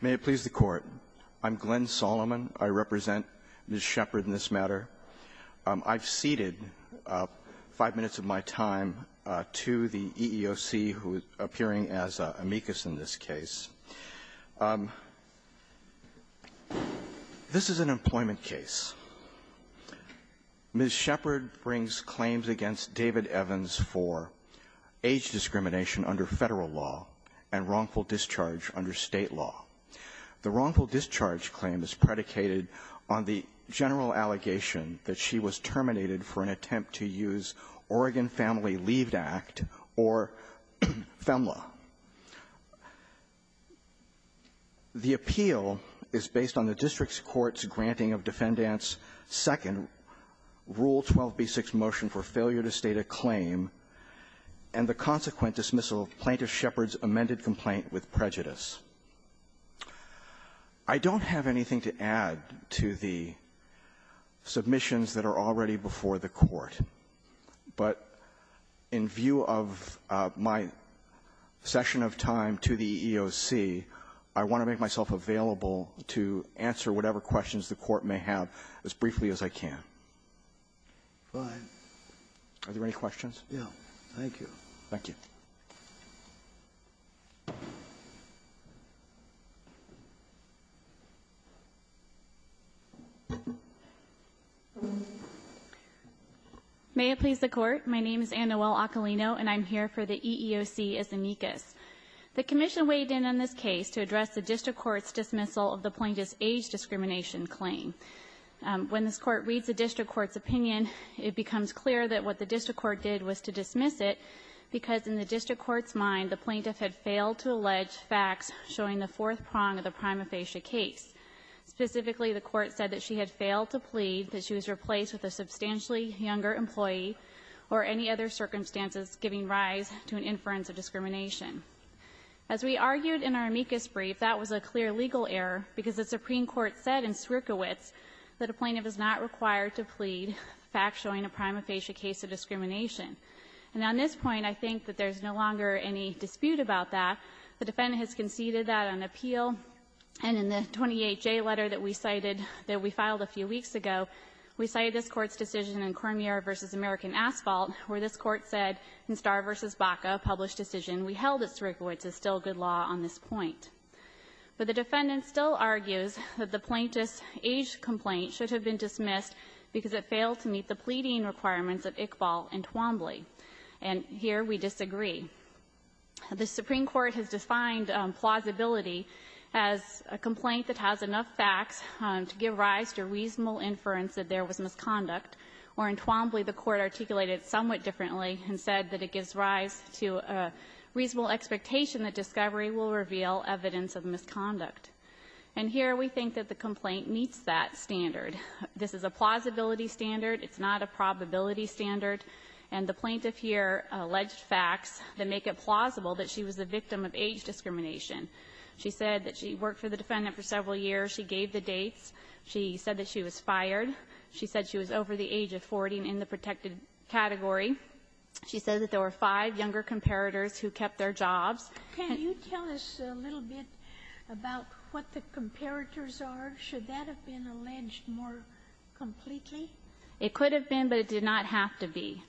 May it please the Court. I'm Glenn Solomon. I represent Ms. Sheppard in this matter. I've ceded five minutes of my time to the EEOC, who is appearing as amicus in this case. This is an employment case. Ms. Sheppard brings claims against David Evans for age discrimination under Federal law and wrongful discharge under State law. The wrongful discharge claim is predicated on the general allegation that she was terminated for an attempt to use Oregon Family Leave Act or FEMLA. The appeal is based on the district court's granting of Defendant's second Rule 12b6 motion for failure to state a claim and the consequent dismissal of Plaintiff Sheppard's amended complaint with prejudice. I don't have anything to add to the submissions that are already before the Court, but in view of my session of time to the EEOC, I want to make myself available to answer whatever questions the Court may have as briefly as I can. Are there any questions? Yes. Thank you. Thank you. May it please the Court. My name is Anne-Noelle Occolino, and I'm here for the EEOC as amicus. The Commission weighed in on this case to address the district court's dismissal of the Plaintiff's age discrimination claim. When this Court reads the district court's opinion, it becomes clear that what the district court did was to dismiss it because in the district court's mind, the Plaintiff had failed to allege facts showing the fourth prong of the prima facie case. Specifically, the Court said that she had failed to plead that she was replaced with a substantially younger employee or any other circumstances giving rise to an inference of discrimination. As we argued in our amicus brief, that was a clear legal error because the Supreme Court said in Sierkiewicz that a Plaintiff is not required to plead facts showing a prima facie case of discrimination. And on this point, I think that there's no longer any dispute about that. The Defendant has conceded that on appeal, and in the 28-J letter that we cited, that we filed a few weeks ago, we cited this Court's decision in Cormier v. American Asphalt, where this Court said in Starr v. Baca, a published decision, we held that Sierkiewicz is still good law on this point. But the Defendant still argues that the Plaintiff's age complaint should have been dismissed because it failed to meet the pleading requirements of Iqbal and Twombly. And here we disagree. The Supreme Court has defined plausibility as a complaint that has enough facts to give rise to a reasonable inference that there was misconduct, or in Twombly, the Court articulated it somewhat differently and said that it gives rise to a reasonable expectation that discovery will reveal evidence of misconduct. And here we think that the complaint meets that standard. This is a plausibility standard. It's not a probability standard. And the Plaintiff here alleged facts that make it plausible that she was the victim of age discrimination. She said that she worked for the Defendant for several years. She gave the dates. She said that she was fired. She said she was over the age of 40 and in the protected category. She said that there were five younger comparators who kept their jobs. Sotomayor, can you tell us a little bit about what the comparators are? Should that have been alleged more completely? It could have been, but it did not have to be.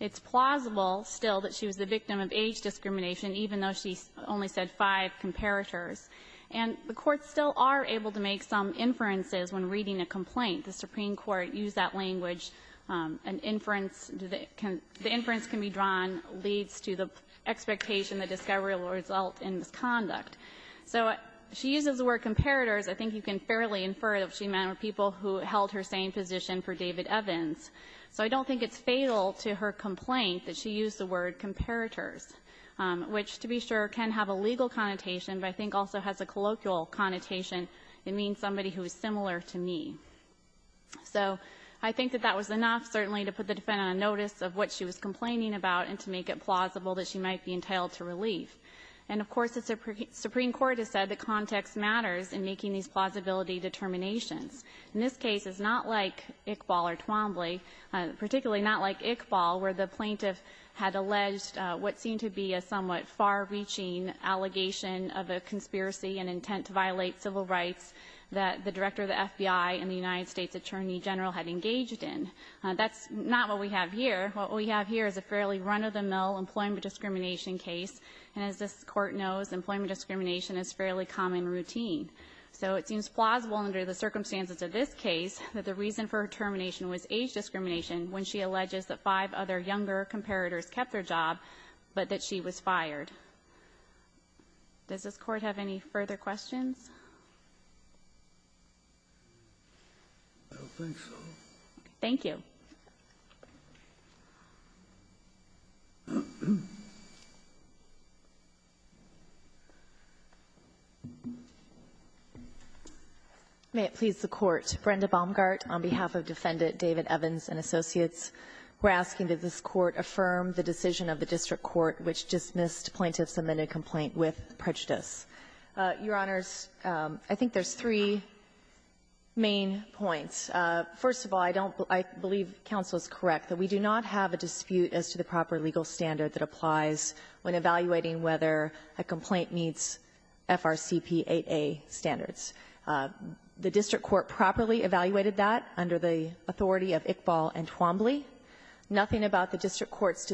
It's plausible, still, that she was the victim of age discrimination, even though she only said five comparators. And the courts still are able to make some inferences when reading a complaint. The Supreme Court used that language. An inference can be drawn leads to the expectation that discovery will result in misconduct. So she uses the word comparators. I think you can fairly infer that what she meant were people who held her same position for David Evans. So I don't think it's fatal to her complaint that she used the word comparators, which, to be sure, can have a legal connotation, but I think also has a colloquial connotation. It means somebody who is similar to me. So I think that that was enough, certainly, to put the defendant on notice of what she was complaining about and to make it plausible that she might be entitled to relief. And, of course, the Supreme Court has said that context matters in making these plausibility determinations. In this case, it's not like Iqbal or Twombly, particularly not like Iqbal, where the plaintiff had alleged what seemed to be a somewhat far-reaching allegation of a conspiracy and intent to violate civil rights that the Director of the FBI and the United States Attorney General had engaged in. That's not what we have here. What we have here is a fairly run-of-the-mill employment discrimination case. And as this Court knows, employment discrimination is a fairly common routine. So it seems plausible under the circumstances of this case that the reason for her termination was age discrimination when she alleges that five other younger comparators kept their job, but that she was fired. Does this Court have any further questions? I don't think so. Thank you. May it please the Court. Brenda Baumgart, on behalf of Defendant David Evans and Associates, we're asking that this Court affirm the decision of the district court which dismissed plaintiff's amended complaint with prejudice. Your Honors, I think there's three main points. First of all, I don't — I believe counsel is correct that we do not have a dispute as to the proper legal standard that applies when evaluating whether a complaint meets FRCP 8a standards. The district court properly evaluated that under the authority of Iqbal and Twombly. Nothing about the district court's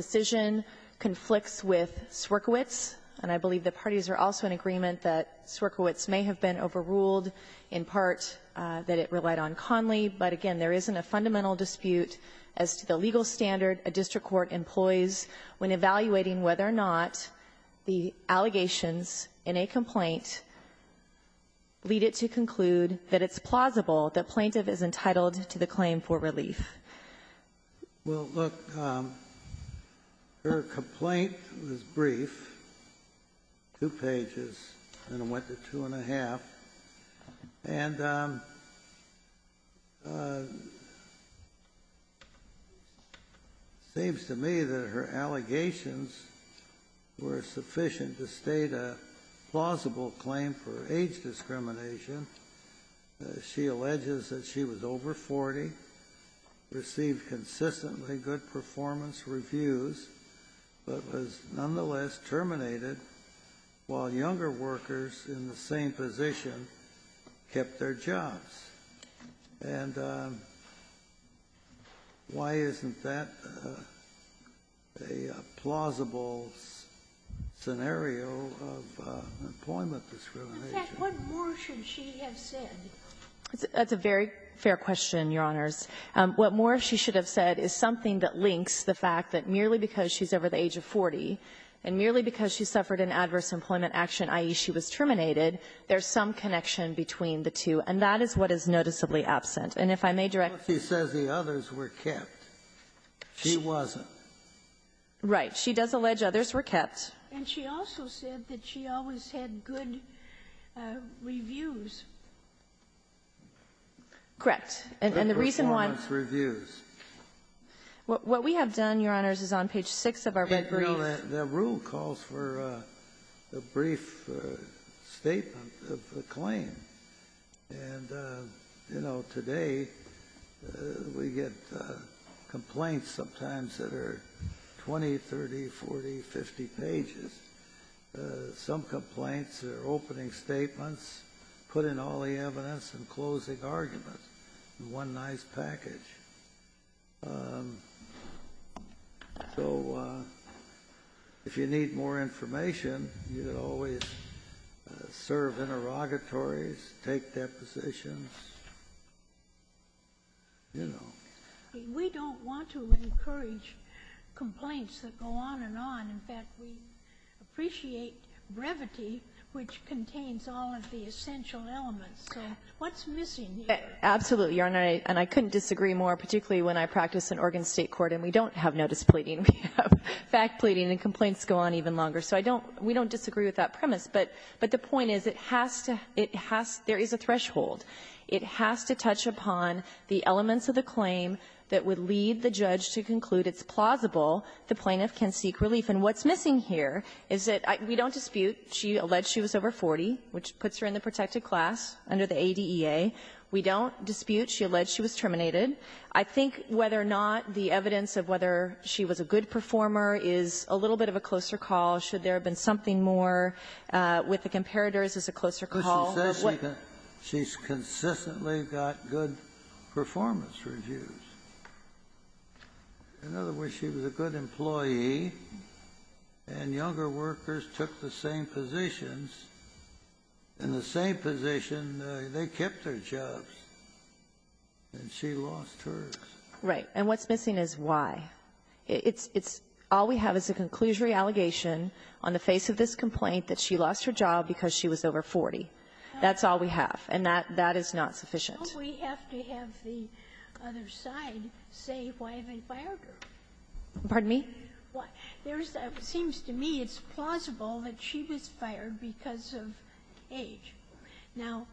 conflicts with Swerkiewicz. And I believe the parties are also in agreement that Swerkiewicz may have been overruled in part that it relied on Conley. But again, there isn't a fundamental dispute as to the legal standard a district court employs when evaluating whether or not the allegations in a complaint lead it to conclude that it's plausible that plaintiff is entitled to the claim for relief. Well, look, her complaint was brief, two pages, and it went to two and a half. And it seems to me that her allegations were sufficient to state a plausible claim for relief. I mean, it's not as if the plaintiff received consistently good performance reviews, but was nonetheless terminated while younger workers in the same position kept their jobs. And why isn't that a plausible scenario of employment discrimination? In fact, what more should she have said? That's a very fair question, Your Honors. What more she should have said is something that links the fact that merely because she's over the age of 40, and merely because she suffered an adverse employment action, i.e., she was terminated, there's some connection between the two. And that is what is noticeably absent. And if I may direct you to the others were kept. She wasn't. Right. She does allege others were kept. And she also said that she always had good reviews. Correct. And the reason why we have done, Your Honors, is on page 6 of our red brief. The rule calls for a brief statement of the claim. And, you know, today we get complaints sometimes that are 20, 30, 40, 50 pages, some complaints that are opening statements, putting all the evidence and closing arguments in one nice package. So if you need more information, you can always serve interrogatories, take depositions, you know. We don't want to encourage complaints that go on and on. In fact, we appreciate brevity, which contains all of the essential elements. So what's missing here? Absolutely, Your Honor. And I couldn't disagree more, particularly when I practice in Oregon State court, and we don't have notice pleading. We have fact pleading, and complaints go on even longer. So I don't we don't disagree with that premise. But the point is it has to there is a threshold. It has to touch upon the elements of the claim that would lead the judge to conclude it's plausible the plaintiff can seek relief. And what's missing here is that we don't dispute she alleged she was over 40, which puts her in the protected class under the ADEA. We don't dispute she alleged she was terminated. I think whether or not the evidence of whether she was a good performer is a little bit of a closer call, should there have been something more with the comparators as a closer call? She's consistently got good performance reviews. In other words, she was a good employee, and younger workers took the same positions. In the same position, they kept their jobs. And she lost hers. Right. And what's missing is why. It's all we have is a conclusionary allegation on the face of this complaint that she lost her job because she was over 40. That's all we have. And that is not sufficient. We have to have the other side say why they fired her. Pardon me? It seems to me it's plausible that she was fired because of age. Now,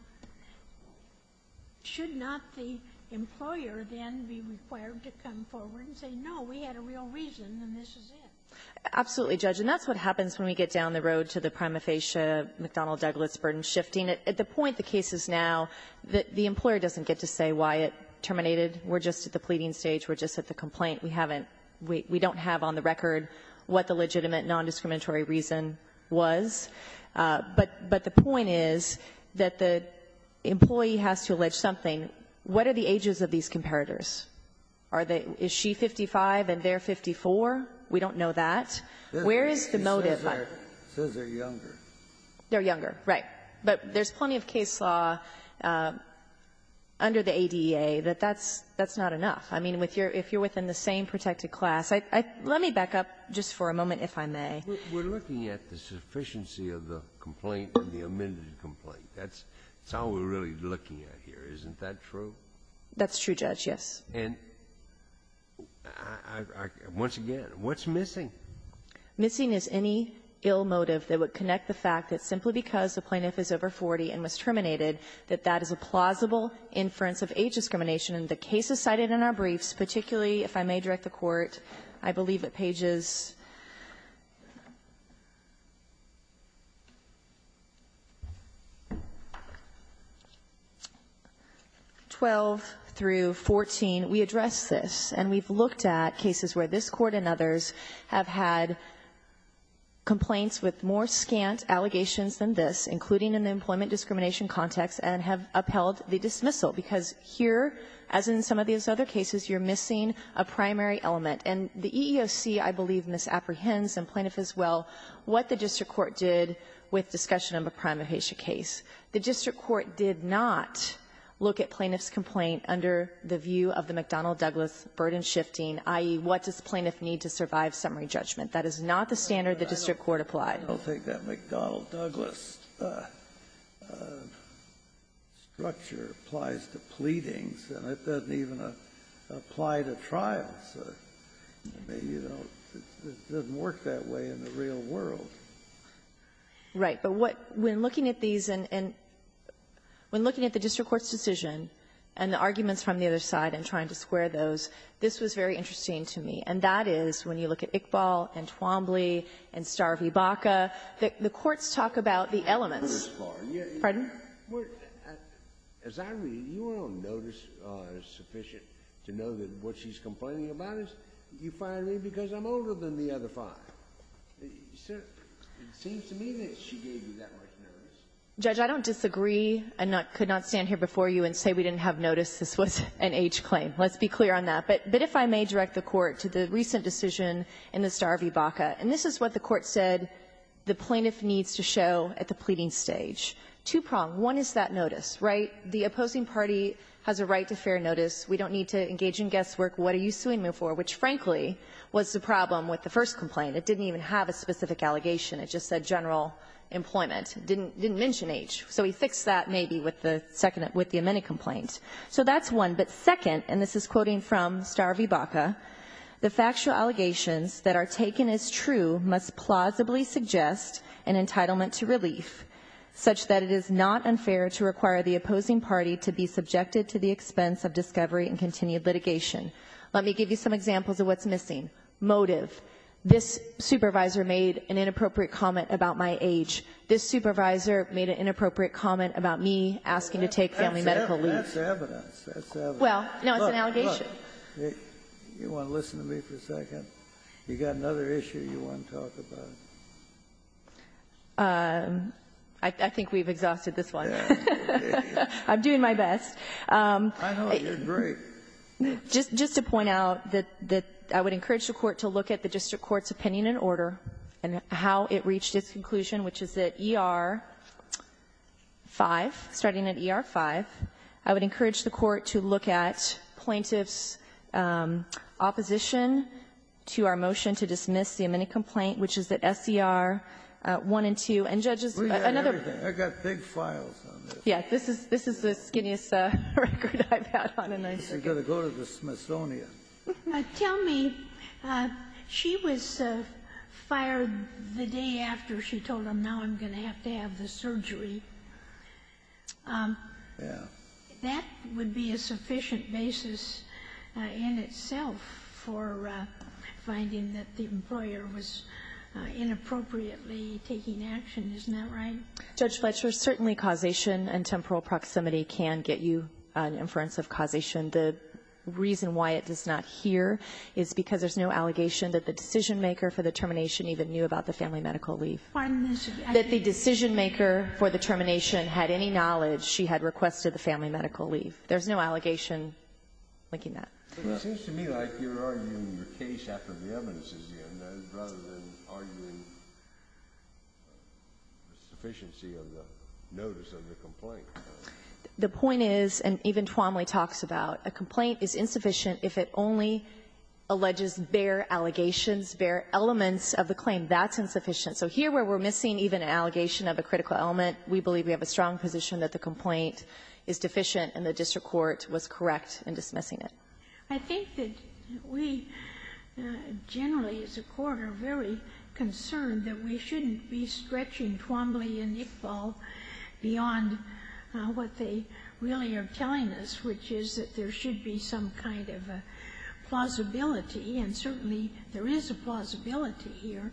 should not the employer then be required to come forward and say, no, we had a real reason and this is it? Absolutely, Judge. And that's what happens when we get down the road to the prima facie McDonnell-Douglas burden shifting. At the point the case is now, the employer doesn't get to say why it terminated. We're just at the pleading stage. We're just at the complaint. We haven't we don't have on the record what the legitimate nondiscriminatory reason was. But the point is that the employee has to allege something. What are the ages of these comparators? Is she 55 and they're 54? We don't know that. Where is the motive? She says they're younger. They're younger, right. But there's plenty of case law under the ADA that that's not enough. I mean, if you're within the same protected class. Let me back up just for a moment, if I may. We're looking at the sufficiency of the complaint and the amended complaint. That's all we're really looking at here. Isn't that true? That's true, Judge, yes. And once again, what's missing? Missing is any ill motive that would connect the fact that simply because the plaintiff is over 40 and was terminated, that that is a plausible inference of age discrimination. And the cases cited in our briefs, particularly if I may direct the Court, I believe at pages 12 through 14, we address this. And we've looked at cases where this Court and others have had complaints with more scant allegations than this, including in the employment discrimination context, and have upheld the dismissal. Because here, as in some of these other cases, you're missing a primary element. And the EEOC, I believe, misapprehends, and plaintiff as well, what the district court did with discussion of a prima facie case. The district court did not look at plaintiff's complaint under the view of the McDonnell-Douglas burden shifting, i.e., what does the plaintiff need to survive summary judgment. That is not the standard the district court applied. I don't think that McDonnell-Douglas structure applies to pleadings, and it doesn't even apply to trials. I mean, you know, it doesn't work that way in the real world. Right. But what we're looking at these in the district court's decision and the arguments from the other side in trying to square those, this was very interesting to me. And that is, when you look at Iqbal and Twombly and Star v. Baca, the courts talk about the elements. Scalia. Pardon? As I read it, you were on notice sufficient to know that what she's complaining about is you fired me because I'm older than the other five. It seems to me that she gave you that much notice. Judge, I don't disagree and could not stand here before you and say we didn't have notice this was an H claim. Let's be clear on that. But if I may direct the Court to the recent decision in the Star v. Baca. And this is what the Court said the plaintiff needs to show at the pleading stage. Two-prong. One is that notice. Right? The opposing party has a right to fair notice. We don't need to engage in guesswork. What are you suing me for? Which, frankly, was the problem with the first complaint. It didn't even have a specific allegation. It just said general employment. It didn't mention H. So we fixed that, maybe, with the second one, with the amended complaint. So that's one. But second, and this is quoting from Star v. Baca, the factual allegations that are taken as true must plausibly suggest an entitlement to relief such that it is not unfair to require the opposing party to be subjected to the expense of discovery and continued litigation. Let me give you some examples of what's missing. Motive. This supervisor made an inappropriate comment about my age. This supervisor made an inappropriate comment about me asking to take family medical leave. And that's evidence. That's evidence. Well, no, it's an allegation. Look, look. You want to listen to me for a second? You got another issue you want to talk about? I think we've exhausted this one. I'm doing my best. I know. You're great. Just to point out that I would encourage the Court to look at the district court's opinion and order and how it reached its conclusion, which is that ER 5, starting at ER 5, I would encourage the Court to look at plaintiff's opposition to our motion to dismiss the amended complaint, which is that SER 1 and 2. And, Judges, another one. We've got everything. I've got big files on this. Yeah. This is the skinniest record I've had on a knife. I've got to go to the Smithsonian. Tell me, she was fired the day after she told him, now I'm going to have to have the surgery. Yeah. That would be a sufficient basis in itself for finding that the employer was inappropriately taking action. Isn't that right? Judge Fletcher, certainly causation and temporal proximity can get you an inference of causation. The reason why it does not here is because there's no allegation that the decision maker for the termination even knew about the family medical leave. Pardon this. That the decision maker for the termination had any knowledge she had requested the family medical leave. There's no allegation linking that. It seems to me like you're arguing your case after the evidence is in, rather than arguing the sufficiency of the notice of the complaint. The point is, and even Twomley talks about, a complaint is insufficient if it only alleges bare allegations, bare elements of the claim. That's insufficient. So here where we're missing even an allegation of a critical element, we believe we have a strong position that the complaint is deficient and the district court was correct in dismissing it. I think that we generally as a Court are very concerned that we shouldn't be stretching Twomley and Iqbal beyond what they really are telling us, which is that there should be some kind of plausibility, and certainly there is a plausibility here.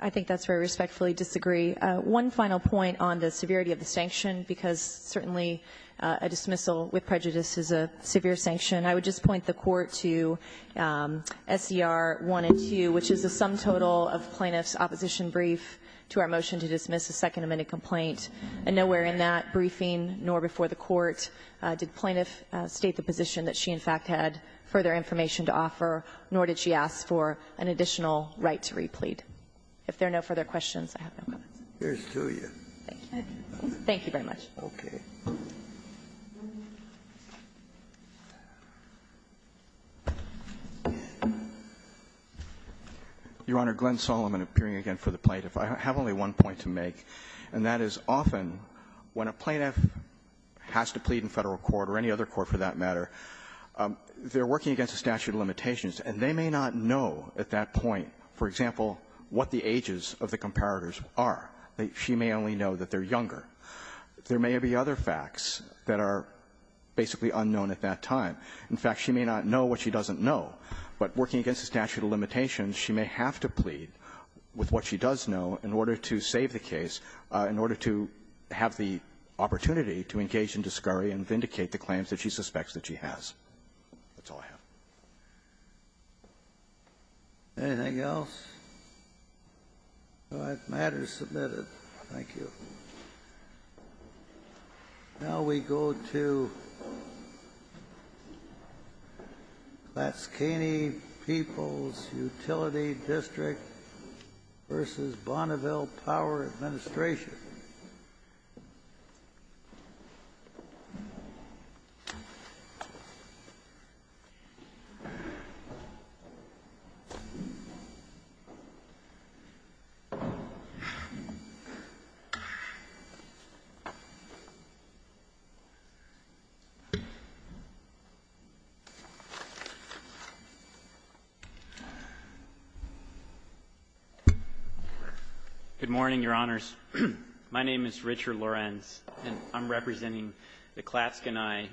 I think that's where I respectfully disagree. One final point on the severity of the sanction, because certainly a dismissal with prejudice is a severe sanction. I would just point the Court to SCR 1 and 2, which is the sum total of plaintiff's opposition brief to our motion to dismiss a Second Amendment complaint. Nowhere in that briefing nor before the Court did plaintiff state the position that she in fact had further information to offer, nor did she ask for an additional right to re-plead. If there are no further questions, I have no comments. Thank you. Thank you very much. Scalia. Your Honor, Glenn Solomon appearing again for the plaintiff. I have only one point to make, and that is often when a plaintiff has to plead in Federal Court or any other court for that matter, they're working against a statute of limitations, and they may not know at that point, for example, what the ages of the comparators are. She may only know that they're younger. There may be other facts that are basically unknown at that time. In fact, she may not know what she doesn't know. But working against a statute of limitations, she may have to plead with what she does know in order to save the case, in order to have the opportunity to engage in discovery and vindicate the claims that she suspects that she has. That's all I have. Anything else? All right. The matter is submitted. Thank you. Now we go to Laskany People's Utility District v. Bonneville Power Administration. Good morning, Your Honors. My name is Richard Lorenz, and I'm representing the Laskany People's Utility District.